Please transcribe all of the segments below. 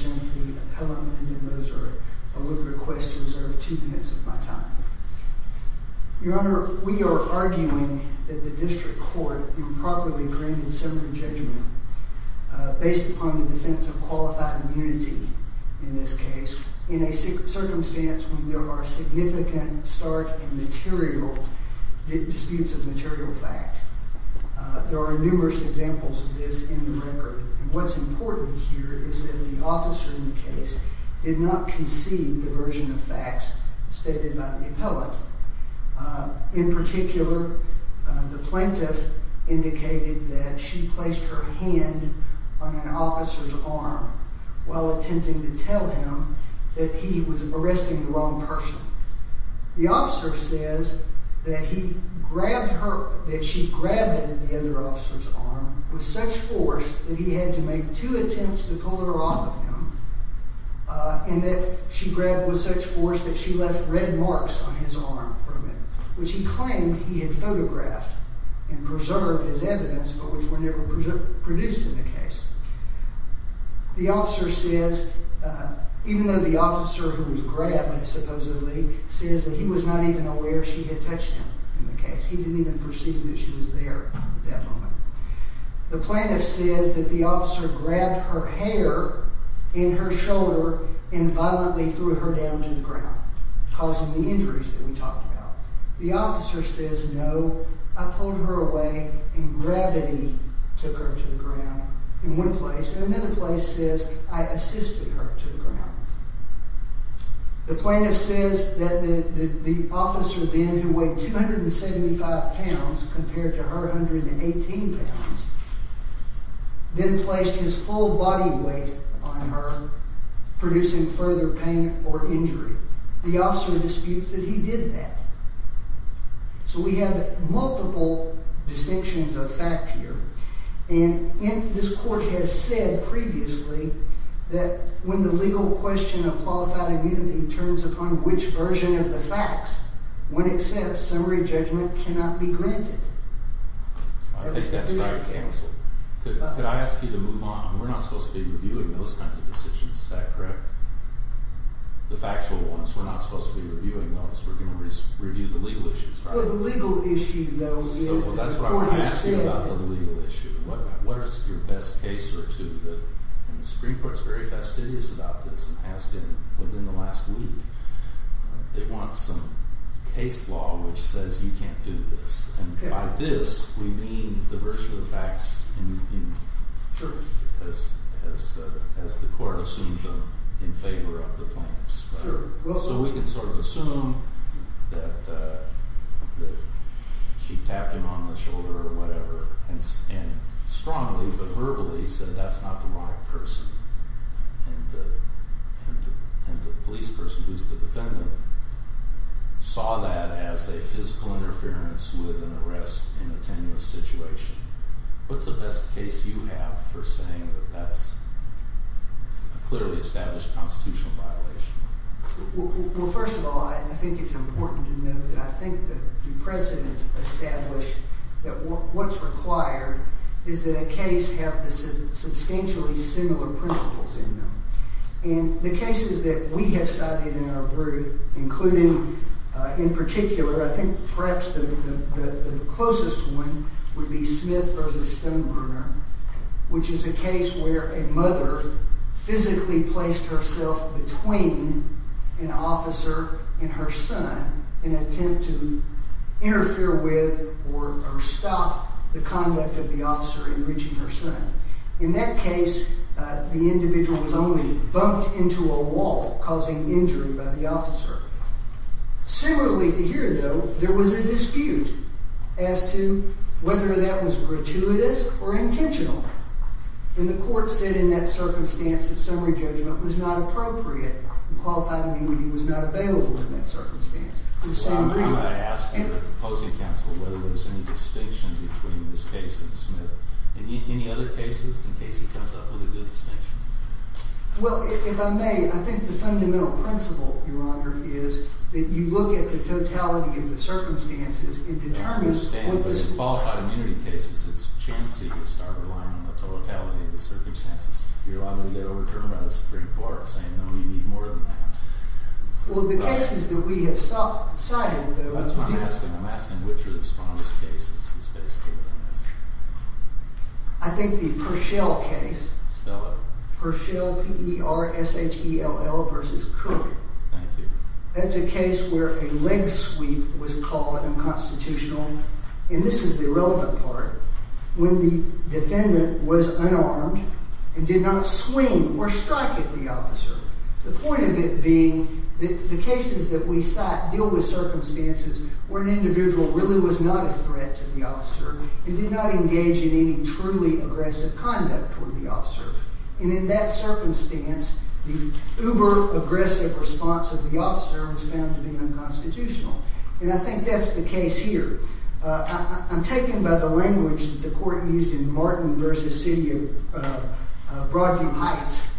I would request to reserve two minutes of my time. Your Honor, we are arguing that the District Court improperly granted similar judgment based upon the defense of qualified immunity, in this case, in a circumstance where there are significant stark and material disputes of material fact. There are numerous examples of this in the record. What's important here is that the officer in the case did not concede the version of facts stated by the appellate. In particular, the plaintiff indicated that she placed her hand on an officer's arm while attempting to tell him that he was arresting the wrong person. The officer says that she grabbed him in the other officer's arm with such force that he had to make two attempts to pull her off of him, and that she grabbed with such force that she left red marks on his arm for a minute, which he claimed he had photographed and preserved as evidence, but which were never produced in the case. The officer says, even though the officer who was grabbing supposedly says that he was not even aware she had touched him in the case. He didn't even perceive that she was there at that moment. The plaintiff says that the officer grabbed her hair in her shoulder and violently threw her down to the ground, causing the injuries that we talked about. The officer says, no, I pulled her away and gravity took her to the ground in one place, and another place says I assisted her to the ground. The plaintiff says that the officer then, who weighed 275 pounds compared to her 118 pounds, then placed his full body weight on her, producing further pain or injury. The officer disputes that he did that. So we have multiple distinctions of fact here, and this court has said previously that when the legal question of qualified immunity turns upon which version of the facts, when it says summary judgment cannot be granted. I think that's right, counsel. Could I ask you to move on? We're not supposed to be reviewing those kinds of decisions. Is that correct? The factual ones. We're not supposed to be reviewing those. We're going to review the legal issues. The legal issue, though. That's what I'm asking about the legal issue. What is your best case or two? And the Supreme Court is very fastidious about this and has been within the last week. They want some case law which says you can't do this. And by this, we mean the version of the facts as the court assumed them in favor of the plaintiffs. So we can sort of assume that she tapped him on the shoulder or whatever and strongly but verbally said that's not the right person. And the police person who's the defendant saw that as a physical interference with an arrest in a tenuous situation. What's the best case you have for saying that that's a clearly established constitutional violation? Well, first of all, I think it's important to note that I think the precedents establish that what's required is that a case have the substantially similar principles in them. And the cases that we have studied in our group, including in particular, I think perhaps the closest one would be Smith v. Stonebringer, which is a case where a mother physically placed herself between an officer and her son in an attempt to interfere with or stop the conduct of the officer in reaching her son. In that case, the individual was only bumped into a wall, causing injury by the officer. Similarly to here, though, there was a dispute as to whether that was gratuitous or intentional. And the court said in that circumstance that summary judgment was not appropriate and qualified to be when he was not available in that circumstance. The same reason I asked the opposing counsel whether there was any distinction between this case and Smith. Any other cases in case he comes up with a good distinction? Well, if I may, I think the fundamental principle, Your Honor, is that you look at the totality of the circumstances and determine what the... In qualified immunity cases, it's chancy to start relying on the totality of the circumstances. You're likely to get overturned by the Supreme Court saying, no, you need more than that. Well, the cases that we have cited, though... That's what I'm asking. I'm asking which are the strongest cases. I think the Pershell case... Spell it. Pershell, P-E-R-S-H-E-L-L versus Kirby. Thank you. That's a case where a leg sweep was called unconstitutional. And this is the relevant part. When the defendant was unarmed and did not swing or strike at the officer, the point of it being that the cases that we cite deal with circumstances where an individual really was not a threat to the officer and did not engage in any truly aggressive conduct toward the officer. And in that circumstance, the uber-aggressive response of the officer was found to be unconstitutional. And I think that's the case here. I'm taken by the language that the court used in Martin v. City of Broadview Heights,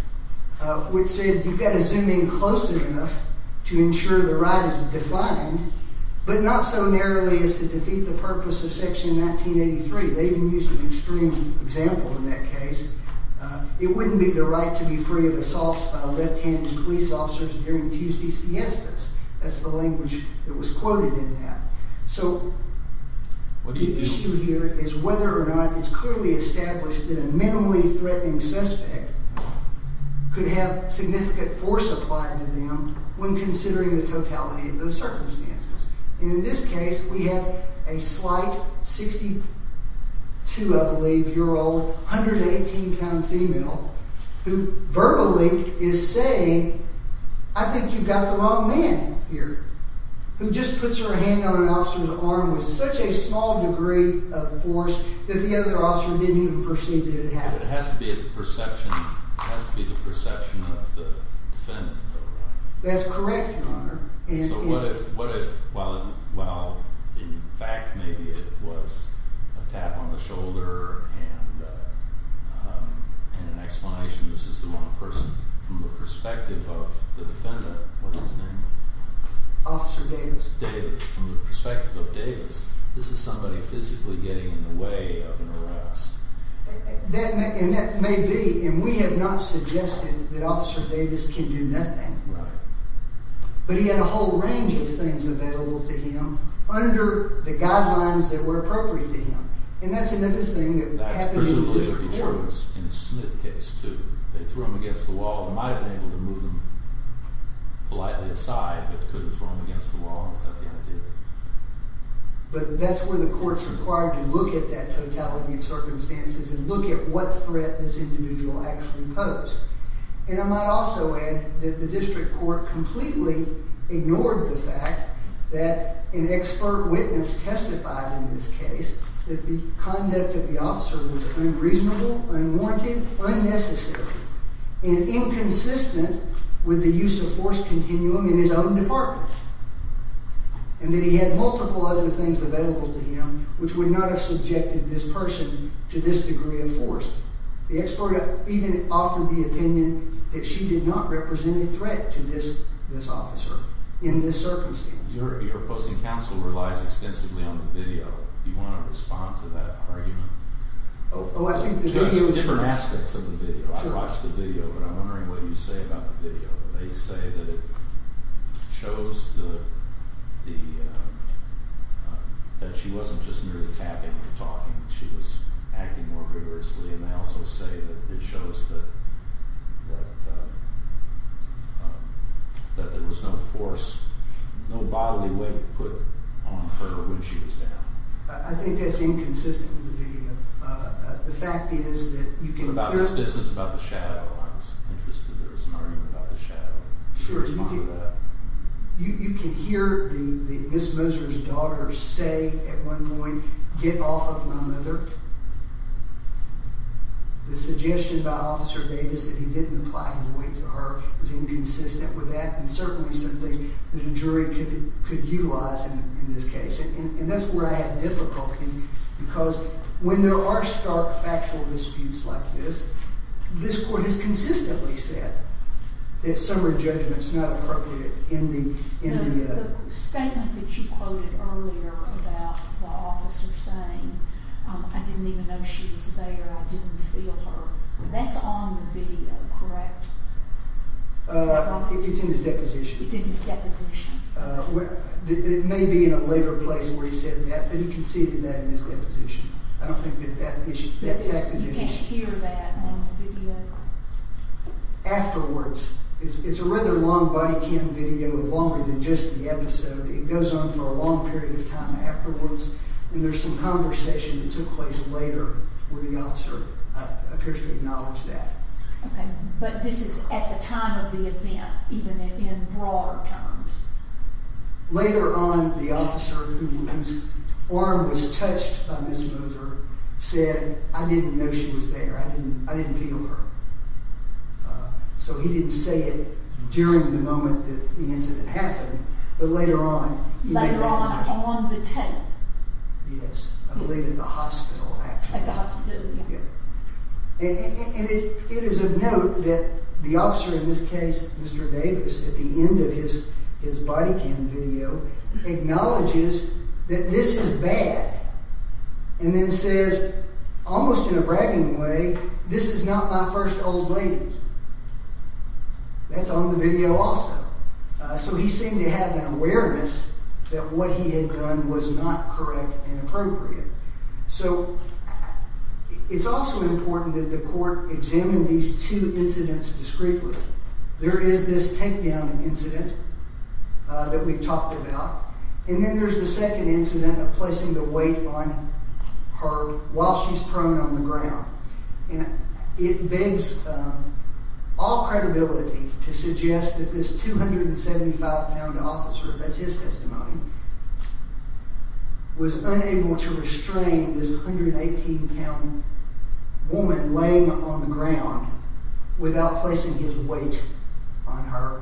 which said you've got to zoom in close enough to ensure the right is defined, but not so narrowly as to defeat the purpose of Section 1983. They even used an extreme example in that case. It wouldn't be the right to be free of assaults by left-handed police officers during Tuesday siestas. That's the language that was quoted in that. So the issue here is whether or not it's clearly established that a minimally threatening suspect could have significant force applied to them when considering the totality of those circumstances. And in this case, we have a slight 62, I believe, year old, 118-pound female who verbally is saying, I think you've got the wrong man here, who just puts her hand on an officer's arm with such a small degree of force that the other officer didn't even perceive that it happened. It has to be the perception of the defendant, though, right? That's correct, Your Honor. So what if, while in fact maybe it was a tap on the shoulder and an explanation, this is the wrong person from the perspective of the defendant. What was his name? Officer Davis. Davis. From the perspective of Davis, this is somebody physically getting in the way of an arrest. And that may be, and we have not suggested that Officer Davis can do nothing. Right. But he had a whole range of things available to him under the guidelines that were appropriate to him. And that's another thing that happened in the court. But that's where the court's required to look at that totality of circumstances and look at what threat this individual actually posed. And I might also add that the district court completely ignored the fact that an expert witness testified in this case that the conduct of the officer was unreasonable, unwarranted, unnecessary, and inconsistent with the use of force continuum in his own department. And that he had multiple other things available to him which would not have subjected this person to this degree of force. The expert even offered the opinion that she did not represent a threat to this officer in this circumstance. Your opposing counsel relies extensively on the video. Do you want to respond to that argument? Oh, I think the video is... There's different aspects of the video. I watched the video, but I'm wondering what you say about the video. They say that it shows that she wasn't just merely tapping or talking. She was acting more vigorously. And they also say that it shows that there was no force, no bodily weight put on her when she was down. I think that's inconsistent with the video. The fact is that you can... About this distance, about the shadow, I was interested. There was an argument about the shadow. Sure. Can you respond to that? You can hear Ms. Moser's daughter say at one point, get off of my mother. The suggestion by Officer Davis that he didn't apply his weight to her was inconsistent with that, and certainly something that a jury could utilize in this case. And that's where I had difficulty, because when there are stark factual disputes like this, this court has consistently said that summary judgment is not appropriate in the... The statement that you quoted earlier about the officer saying, I didn't even know she was there, I didn't feel her, that's on the video, correct? It's in his deposition. It's in his deposition. It may be in a later place where he said that, but you can see that in his deposition. I don't think that that is... You can't hear that on the video? Afterwards. It's a rather long body cam video, longer than just the episode. It goes on for a long period of time afterwards, and there's some conversation that took place later where the officer appears to acknowledge that. Okay. But this is at the time of the event, even in broader terms. Later on, the officer, whose arm was touched by Ms. Moser, said, I didn't know she was there, I didn't feel her. So he didn't say it during the moment that the incident happened, but later on... Later on on the 10th. Yes, I believe at the hospital, actually. At the hospital, yeah. And it is of note that the officer in this case, Mr. Davis, at the end of his body cam video, acknowledges that this is bad and then says, almost in a bragging way, this is not my first old lady. That's on the video also. So he seemed to have an awareness that what he had done was not correct and appropriate. So it's also important that the court examine these two incidents discreetly. There is this takedown incident that we've talked about, and then there's the second incident of placing the weight on her while she's prone on the ground. It begs all credibility to suggest that this 275-pound officer, that's his testimony, was unable to restrain this 118-pound woman laying on the ground without placing his weight on her.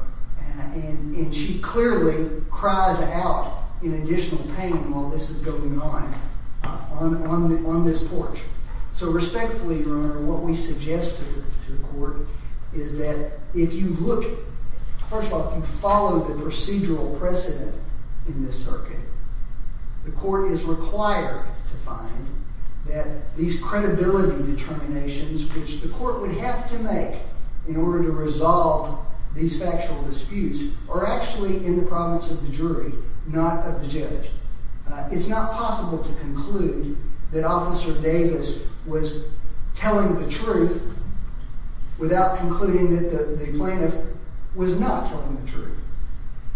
And she clearly cries out in additional pain while this is going on on this porch. So respectfully, Your Honor, what we suggest to the court is that if you look... First of all, if you follow the procedural precedent in this circuit, the court is required to find that these credibility determinations, which the court would have to make in order to resolve these factual disputes, are actually in the province of the jury, not of the judge. It's not possible to conclude that Officer Davis was telling the truth without concluding that the plaintiff was not telling the truth.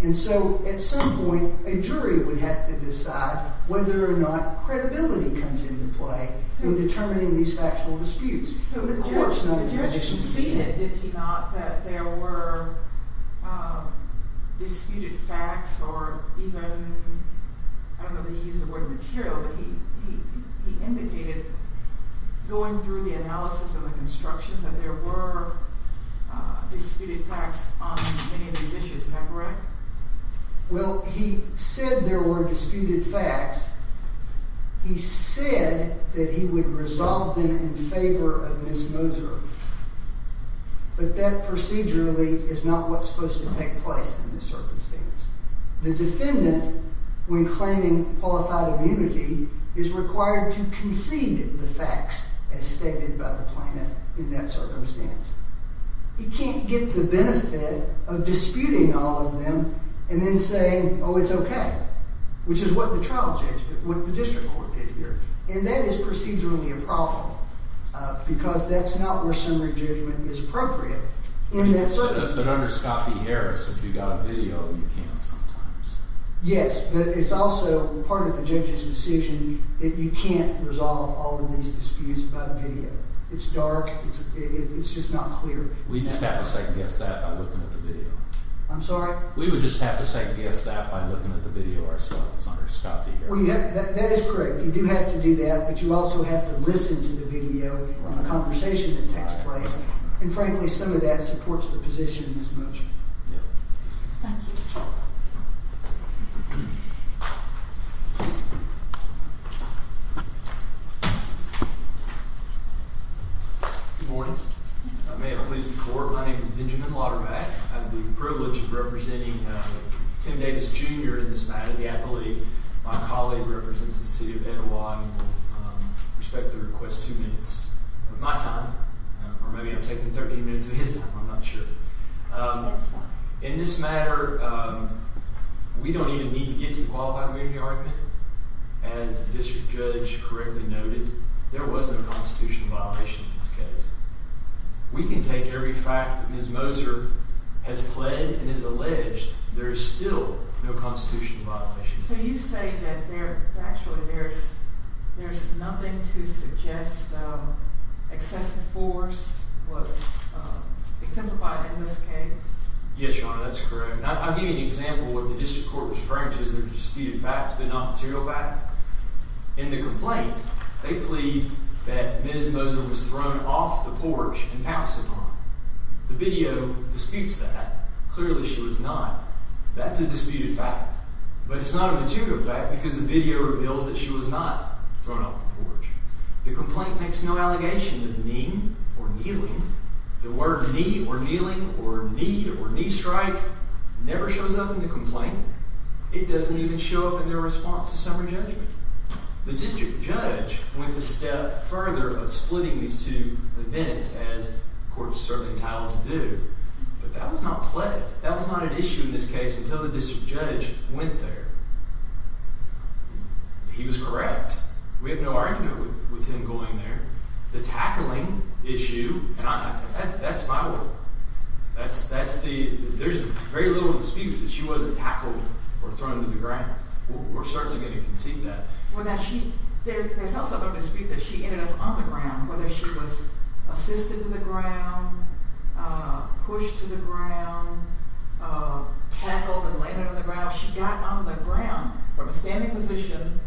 And so at some point, a jury would have to decide whether or not credibility comes into play in determining these factual disputes. The court's not in a position to do that. So the judge conceded, did he not, that there were disputed facts or even... I don't know that he used the word material, but he indicated going through the analysis and the constructions that there were disputed facts on many of these issues. Is that correct? Well, he said there were disputed facts. He said that he would resolve them in favor of Ms. Moser, but that procedurally is not what's supposed to take place in this circumstance. The defendant, when claiming qualified immunity, is required to concede the facts as stated by the plaintiff in that circumstance. He can't get the benefit of disputing all of them and then saying, oh, it's okay, which is what the district court did here. And that is procedurally a problem because that's not where summary judgment is appropriate in that circumstance. But under Scott v. Harris, if you've got a video, you can sometimes. Yes, but it's also part of the judge's decision that you can't resolve all of these disputes by video. It's dark. It's just not clear. We'd just have to second-guess that by looking at the video. I'm sorry? We would just have to second-guess that by looking at the video ourselves under Scott v. Harris. That is correct. You do have to do that, but you also have to listen to the video and the conversation that takes place. And frankly, some of that supports the position as much. Thank you. Good morning. May I please report? My name is Benjamin Laudermack. I have the privilege of representing Tim Davis Jr. in this matter. I believe my colleague represents the city of Etowah and will respectfully request two minutes of my time. Or maybe I'm taking 13 minutes of his time. I'm not sure. That's fine. In this matter, we don't even need to get to the qualified immunity argument. As the district judge correctly noted, there wasn't a constitutional violation in this case. We can take every fact that Ms. Moser has pled and has alleged. There is still no constitutional violation. So you say that actually there's nothing to suggest excessive force was exemplified in this case? Yes, Your Honor, that's correct. I'll give you an example of what the district court was referring to as their disputed facts, but not material facts. In the complaint, they plead that Ms. Moser was thrown off the porch and pounced upon. The video disputes that. Clearly, she was not. That's a disputed fact. But it's not a material fact because the video reveals that she was not thrown off the porch. The complaint makes no allegation of kneeing or kneeling. The word knee or kneeling or knee or knee strike never shows up in the complaint. It doesn't even show up in their response to summary judgment. The district judge went a step further of splitting these two events, as the court was certainly entitled to do. But that was not pled. That was not an issue in this case until the district judge went there. He was correct. We have no argument with him going there. The tackling issue, that's my word. There's very little dispute that she wasn't tackled or thrown to the ground. We're certainly going to concede that. There's also a dispute that she ended up on the ground, whether she was assisted to the ground, pushed to the ground, tackled and landed on the ground. She got on the ground from a standing position.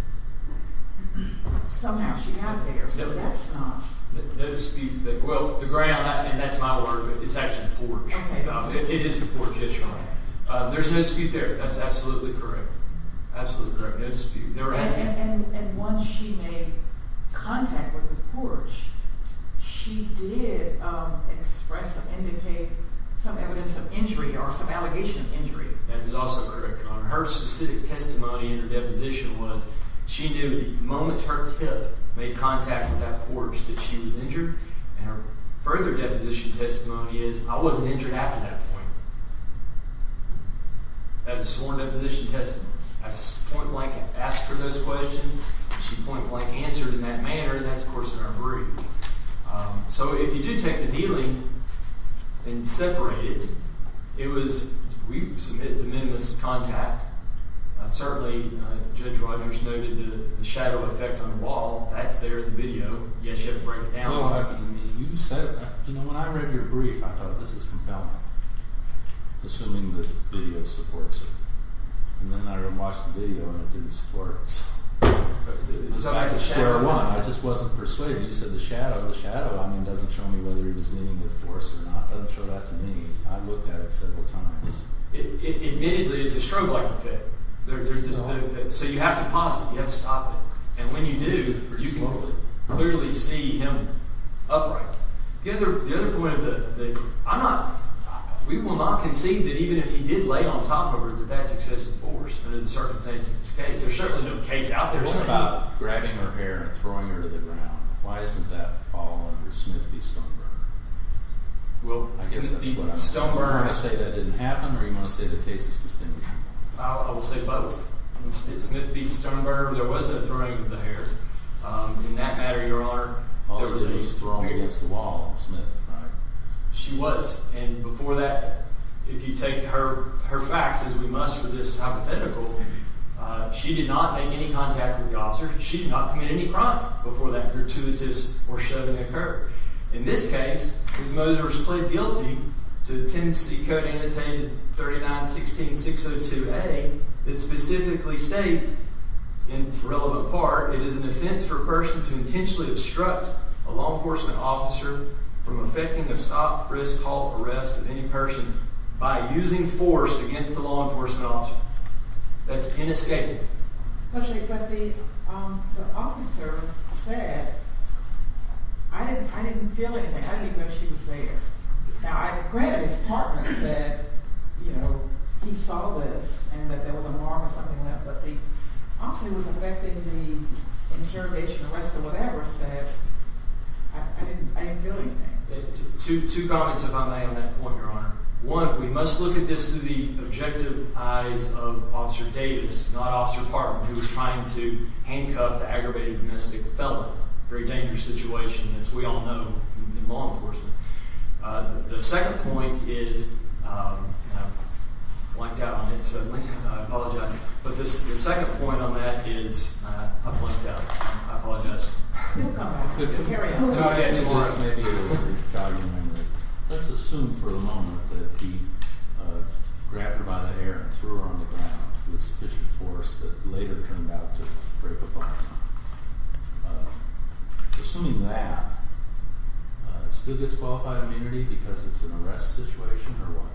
Somehow she got there, so that's not. Well, the ground, that's my word, but it's actually the porch. It is the porch, yes, Your Honor. There's no dispute there. That's absolutely correct. Absolutely correct. No dispute. And once she made contact with the porch, she did express or indicate some evidence of injury or some allegation of injury. That is also correct, Your Honor. Her specific testimony in her deposition was she knew the moment her hip made contact with that porch that she was injured. And her further deposition testimony is I wasn't injured after that point. That was sworn deposition testimony. I point blank asked her those questions. She point blank answered in that manner, and that's, of course, in our brief. So if you do take the kneeling and separate it, it was we submit the minimalist contact. Certainly, Judge Rogers noted the shadow effect on the wall. That's there in the video. Yes, you have to break it down. No, I mean, you said that. You know, when I read your brief, I thought this is compelling, assuming the video supports it. And then I watched the video, and it didn't support it. In fact, it's square one. I just wasn't persuaded. You said the shadow. The shadow, I mean, doesn't show me whether he was leaning with force or not. It doesn't show that to me. I looked at it several times. Admittedly, it's a strobe-like effect. So you have to pause it. You have to stop it. And when you do, you can clearly see him upright. The other point that I'm not—we will not concede that even if he did lay on top of her, that that's excessive force. But in the circumstances of this case, there's certainly no case out there saying— What about grabbing her hair and throwing her to the ground? Why doesn't that fall under Smith v. Stoneberger? Well, I guess that's what I'm— Smith v. Stoneberger. Do you want to say that didn't happen, or do you want to say the case is distinguished? I will say both. In Smith v. Stoneberger, there was no throwing of the hair. In that matter, Your Honor, there was a— All you're doing is throwing against the wall in Smith, right? She was. And before that, if you take her facts as we must for this hypothetical, she did not make any contact with the officer. She did not commit any crime before that gratuitous or shoving occurred. In this case, Ms. Moser is plead guilty to Tenancy Code Annotated 3916602A that specifically states, in relevant part, it is an offense for a person to intentionally obstruct a law enforcement officer from effecting a stop, frisk, halt, arrest of any person by using force against the law enforcement officer. That's inescapable. But the officer said, I didn't feel anything. I didn't even know she was there. Now, I agree that his partner said, you know, he saw this and that there was a mark or something like that, but the officer who was effecting the interrogation, arrest, or whatever said, I didn't feel anything. Two comments, if I may, on that point, Your Honor. One, we must look at this through the objective eyes of Officer Davis, not Officer Parham, who was trying to handcuff the aggravated domestic felon. Very dangerous situation, as we all know, in law enforcement. The second point is, I blanked out on it, so I apologize. But the second point on that is, I blanked out. I apologize. Let's assume for the moment that he grabbed her by the hair and threw her on the ground with sufficient force that later turned out to break a bone. Assuming that, still gets qualified immunity because it's an arrest situation or what?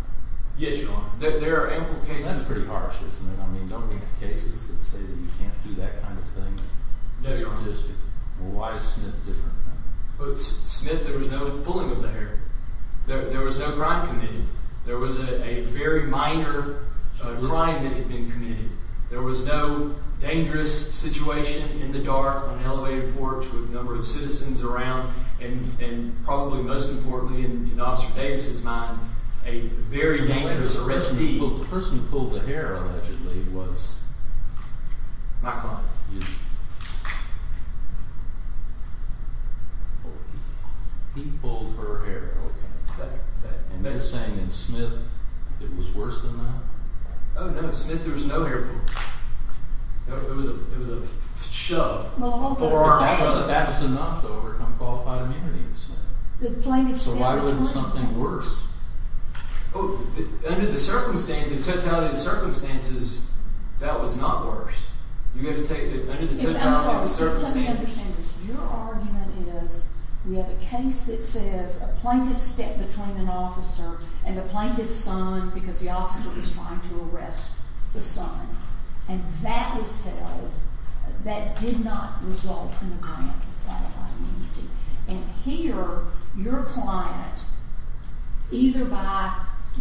Yes, Your Honor. There are ample cases. That's pretty harsh, isn't it? I mean, don't we have cases that say that you can't do that kind of thing? No, Your Honor. Statistically. Well, why is Smith different then? Smith, there was no pulling of the hair. There was no crime committed. There was a very minor crime that had been committed. There was no dangerous situation in the dark on an elevated porch with a number of citizens around, and probably most importantly in Officer Davis's mind, a very dangerous arrestee. Well, the person who pulled the hair allegedly was? My client. He pulled her hair. Okay. And they're saying in Smith it was worse than that? Oh, no. Smith, there was no hair pulling. It was a shove. A forearm shove. But that was enough to overcome qualified immunity in Smith. So why would it be something worse? Under the circumstances, that was not worse. You have to take it under the totality of the circumstances. Let me understand this. Your argument is we have a case that says a plaintiff stepped between an officer and the plaintiff's son because the officer was trying to arrest the son, and that was held. That did not result in a grant of qualified immunity. And here, your client, either by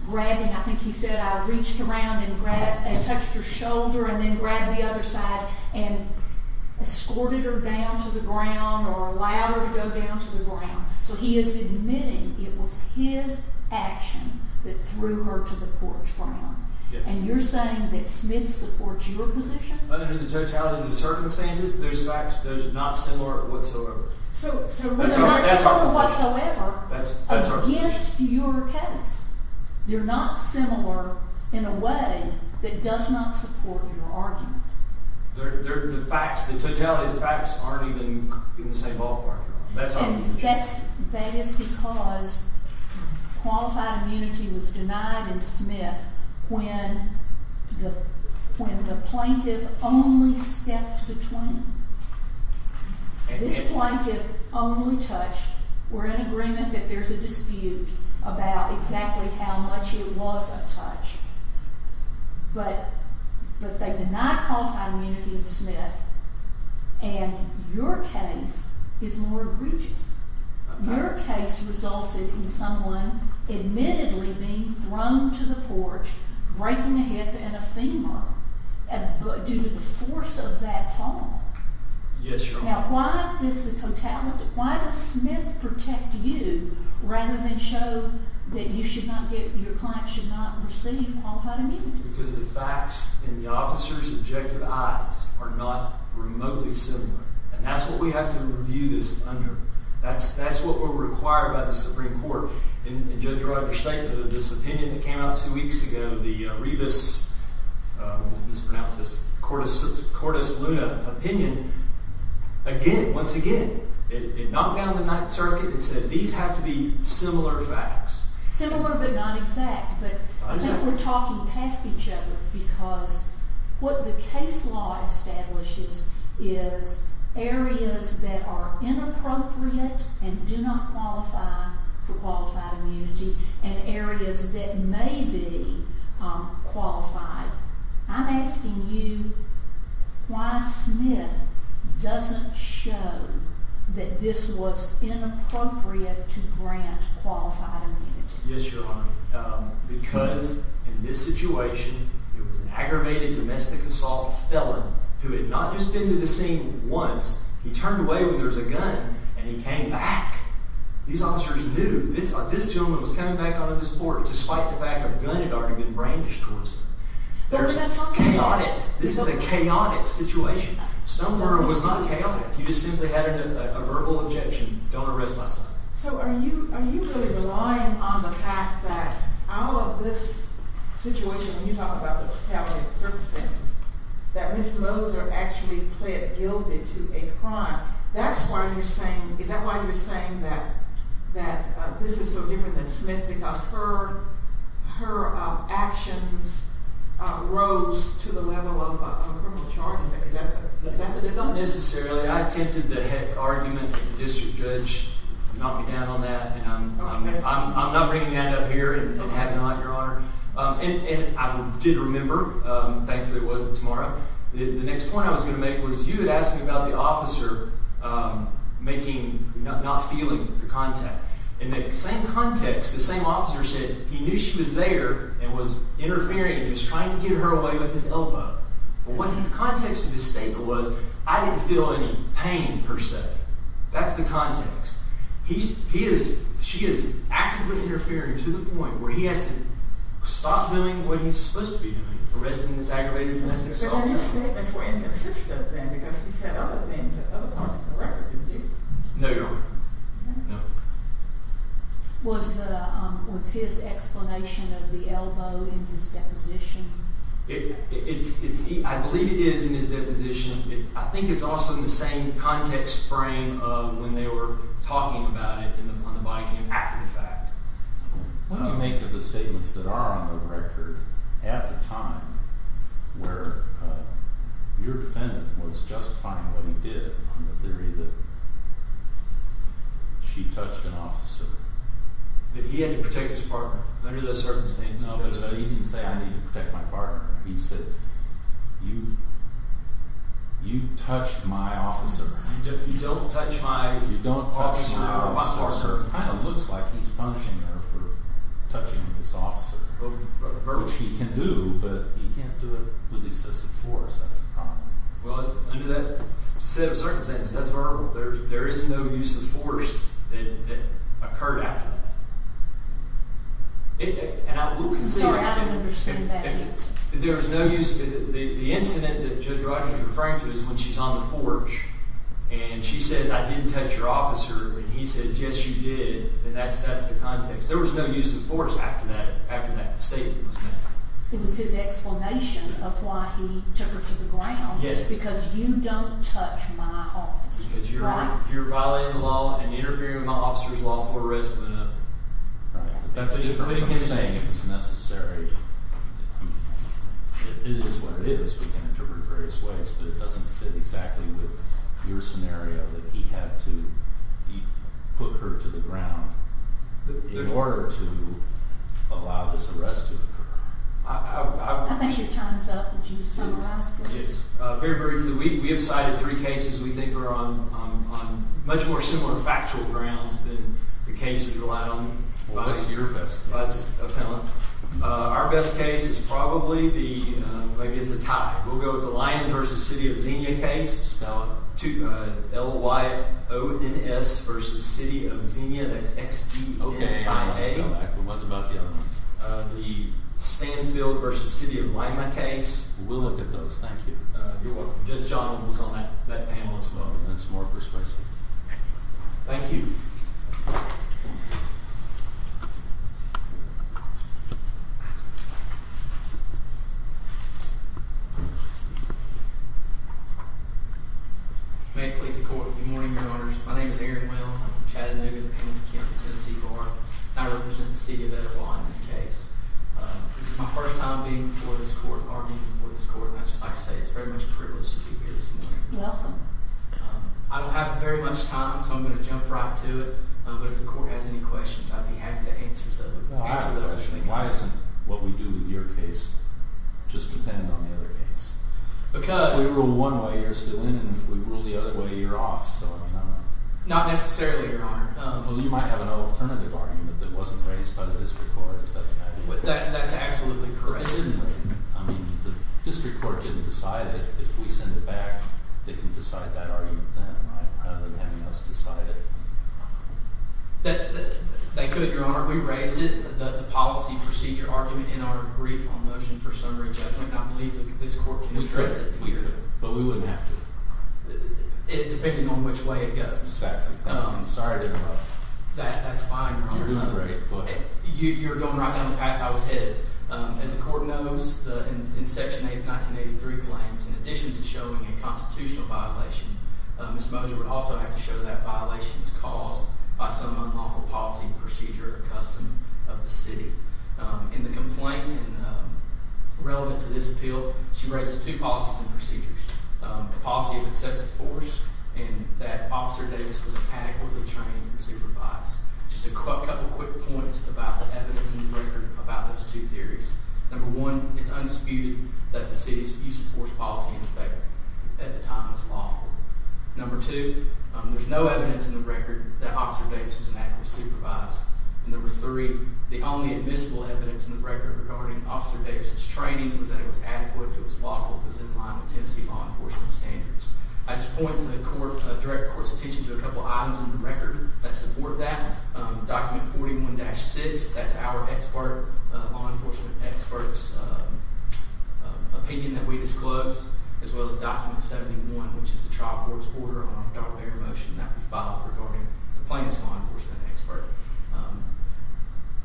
grabbing, I think he said, I reached around and touched her shoulder and then grabbed the other side and escorted her down to the ground or allowed her to go down to the ground. So he is admitting it was his action that threw her to the porch ground. And you're saying that Smith supports your position? Under the totalities of circumstances, there's facts. Those are not similar whatsoever. So they're not similar whatsoever against your case. They're not similar in a way that does not support your argument. The facts, the totality of the facts aren't even in the same ballpark. And that is because qualified immunity was denied in Smith when the plaintiff only stepped between. This plaintiff only touched. We're in agreement that there's a dispute about exactly how much it was a touch. But they did not qualify immunity in Smith, and your case is more egregious. Your case resulted in someone admittedly being thrown to the porch, breaking a hip and a femur due to the force of that fall. Yes, Your Honor. Now, why does Smith protect you rather than show that your client should not receive qualified immunity? Because the facts in the officer's objective eyes are not remotely similar. And that's what we have to review this under. That's what we're required by the Supreme Court. In Judge Ryder's statement, this opinion that came out two weeks ago, the rebus, mispronounced this, Cordis Luna opinion, again, once again, it knocked down the Ninth Circuit and said, these have to be similar facts. Similar but not exact, but I think we're talking past each other because what the case law establishes is areas that are inappropriate and do not qualify for qualified immunity and areas that may be qualified. I'm asking you why Smith doesn't show that this was inappropriate to grant qualified immunity. Yes, Your Honor. Because in this situation, it was an aggravated domestic assault felon who had not just been to the scene once. He turned away when there was a gun, and he came back. These officers knew this gentleman was coming back onto this porch, despite the fact a gun had already been brandished towards him. There's no talking about it. This is a chaotic situation. Stoner was not chaotic. He just simply had a verbal objection. Don't arrest my son. So are you really relying on the fact that out of this situation, when you talk about the fatality of circumstances, that Ms. Moser actually pled guilty to a crime? Is that why you're saying that this is so different than Smith, because her actions rose to the level of a criminal charge? Is that the difference? Not necessarily. I attempted the heck argument with the district judge to knock me down on that, and I'm not bringing that up here and having a heart, Your Honor. And I did remember. Thankfully, it wasn't tomorrow. The next point I was going to make was you had asked me about the officer not feeling the contact. In the same context, the same officer said he knew she was there and was interfering and was trying to get her away with his elbow. But what the context of his statement was, I didn't feel any pain, per se. That's the context. She is actively interfering to the point where he has to stop doing what he's supposed to be doing, arresting this aggravated domestic assault. But then his statement is way more consistent, then, because he said other things at other points in the record, didn't he? No, Your Honor. No. Was his explanation of the elbow in his deposition? I believe it is in his deposition. I think it's also in the same context frame of when they were talking about it on the body cam after the fact. What do you make of the statements that are on the record at the time where your defendant was justifying what he did on the theory that she touched an officer? That he had to protect his partner under those circumstances. No, but he didn't say, I need to protect my partner. He said, you touched my officer. You don't touch my officer. It kind of looks like he's punishing her for touching this officer, which he can do, but he can't do it with excessive force. That's the problem. Well, under that set of circumstances, that's verbal. There is no use of force that occurred after that. Sorry, I don't understand that. The incident that Judge Rogers is referring to is when she's on the porch and she says, I didn't touch your officer, and he says, yes, you did, and that's the context. There was no use of force after that statement was made. It was his explanation of why he took her to the ground. Because you don't touch my officer, right? You're violating the law and interfering with my officer's lawful arrest. Right. That's a different thing. He's saying it's necessary. It is what it is. We can interpret it various ways, but it doesn't fit exactly with your scenario that he had to put her to the ground in order to allow this arrest to occur. I think it chimes up. Would you summarize, please? Very briefly, we have cited three cases. We think they're on much more similar factual grounds than the cases relied on. What's your best case? Our best case is probably the – maybe it's a tie. We'll go with the Lyons v. City of Xenia case. Spell it. L-Y-O-N-S v. City of Xenia. That's X-D-O-N-I-A. What about the other one? The Stanfield v. City of Lima case. We'll look at those. Thank you. You're welcome. John was on that panel as well, and it's more persuasive. Thank you. Thank you. May it please the Court. Good morning, Your Honors. My name is Aaron Wells. I'm from Chattanooga, Pennsylvania. I represent the City of Etiwala in this case. This is my first time being before this court, or being before this court, I'd just like to say it's very much a privilege to be here this morning. You're welcome. I don't have very much time, so I'm going to jump right to it. But if the Court has any questions, I'd be happy to answer some of them. I have a question. Why doesn't what we do with your case just depend on the other case? Because – If we rule one way, you're still in, and if we rule the other way, you're off. So, I don't know. Not necessarily, Your Honor. Well, you might have an alternative argument that wasn't raised by the District Court. That's absolutely correct. I mean, the District Court didn't decide it. If we send it back, they can decide that argument then, right? Rather than having us decide it. They could, Your Honor. We raised it, the policy procedure argument, in our brief on motion for summary judgment. I believe that this Court can address it here. We could, but we wouldn't have to. It depends on which way it goes. Exactly. Sorry to interrupt. That's fine, Your Honor. You're doing great. Go ahead. You're going right down the path I was headed. As the Court knows, in Section 1983 claims, in addition to showing a constitutional violation, Ms. Moser would also have to show that violation is caused by some unlawful policy procedure or custom of the city. In the complaint, relevant to this appeal, she raises two policies and procedures. The policy of excessive force, and that Officer Davis was inadequately trained and supervised. Just a couple quick points about the evidence in the record about those two theories. Number one, it's undisputed that the city's excessive force policy in effect at the time was lawful. Number two, there's no evidence in the record that Officer Davis was inadequately supervised. And number three, the only admissible evidence in the record regarding Officer Davis' training was that it was adequate, it was lawful, it was in line with Tennessee law enforcement standards. I just point to the direct court's attention to a couple items in the record that support that. Document 41-6, that's our expert, law enforcement expert's opinion that we disclosed, as well as Document 71, which is the trial court's order on a fair motion that we filed regarding the plaintiff's law enforcement expert.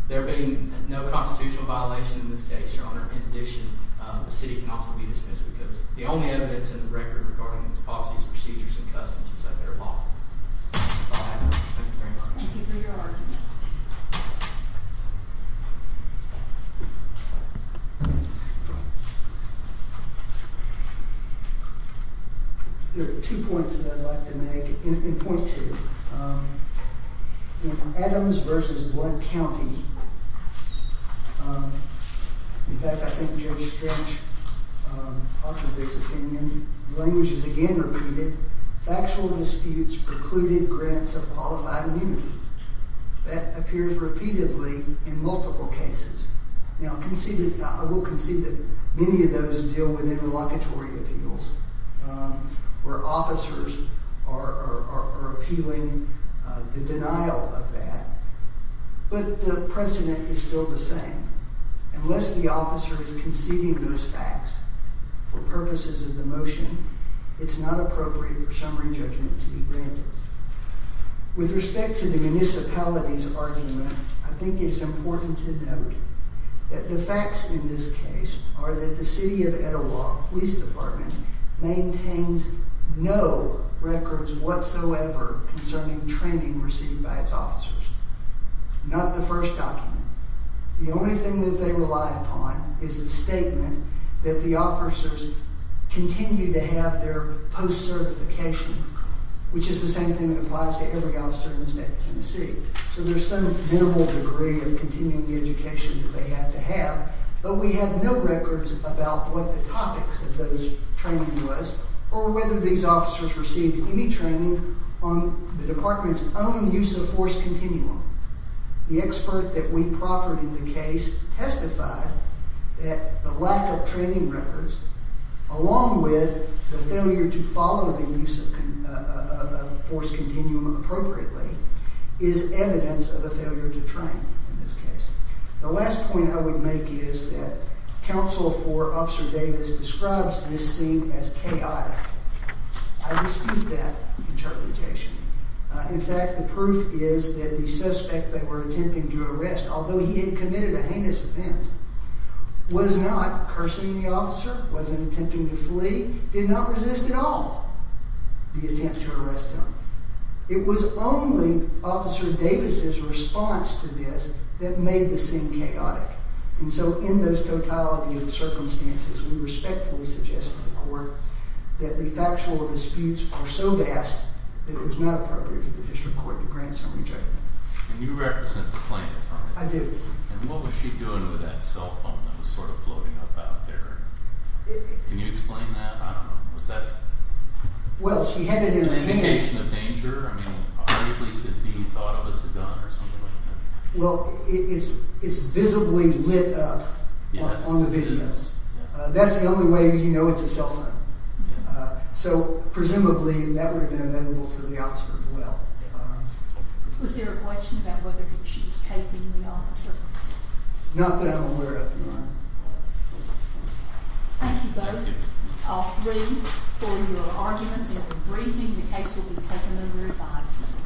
There being no constitutional violation in this case, Your Honor, in addition, the city can also be dismissed because the only evidence in the record regarding these policies, procedures, and customs was that they were lawful. That's all I have. Thank you very much. Thank you for your argument. There are two points that I'd like to make, and point to. In Adams v. Blood County, in fact, I think Judge Strange authored this opinion, the language is again repeated, factual disputes precluded grants of qualified immunity. That appears repeatedly in multiple cases. Now, I will concede that many of those deal with interlocutory appeals, where officers are appealing the denial of that, but the precedent is still the same. Unless the officer is conceding those facts for purposes of the motion, it's not appropriate for summary judgment to be granted. With respect to the municipalities argument, I think it's important to note that the facts in this case are that the City of Etowah Police Department maintains no records whatsoever concerning training received by its officers. Not the first document. The only thing that they rely upon is a statement that the officers continue to have their post-certification, which is the same thing that applies to every officer in the state of Tennessee. So there's some minimal degree of continuing education that they have to have, but we have no records about what the topics of those training was, or whether these officers received any training on the department's own use of force continuum. The expert that we proffered in the case testified that the lack of training records, along with the failure to follow the use of force continuum appropriately, is evidence of a failure to train in this case. The last point I would make is that counsel for Officer Davis describes this scene as chaotic. I dispute that interpretation. In fact, the proof is that the suspect that we're attempting to arrest, although he had committed a heinous offense, was not cursing the officer, wasn't attempting to flee, did not resist at all the attempt to arrest him. It was only Officer Davis's response to this that made the scene chaotic. And so in those totality of circumstances, we respectfully suggest to the court that the factual disputes are so vast that it was not appropriate for the district court to grant summary judgment. And you represent the plaintiff, aren't you? I do. And what was she doing with that cell phone that was sort of floating up out there? Can you explain that? I don't know. Well, she had it in her hand. Well, it's visibly lit up on the video. That's the only way you know it's a cell phone. So presumably that would have been amenable to the officer as well. Not that I'm aware of, no. Thank you both, all three, for your arguments and your briefing. The case will be taken under review.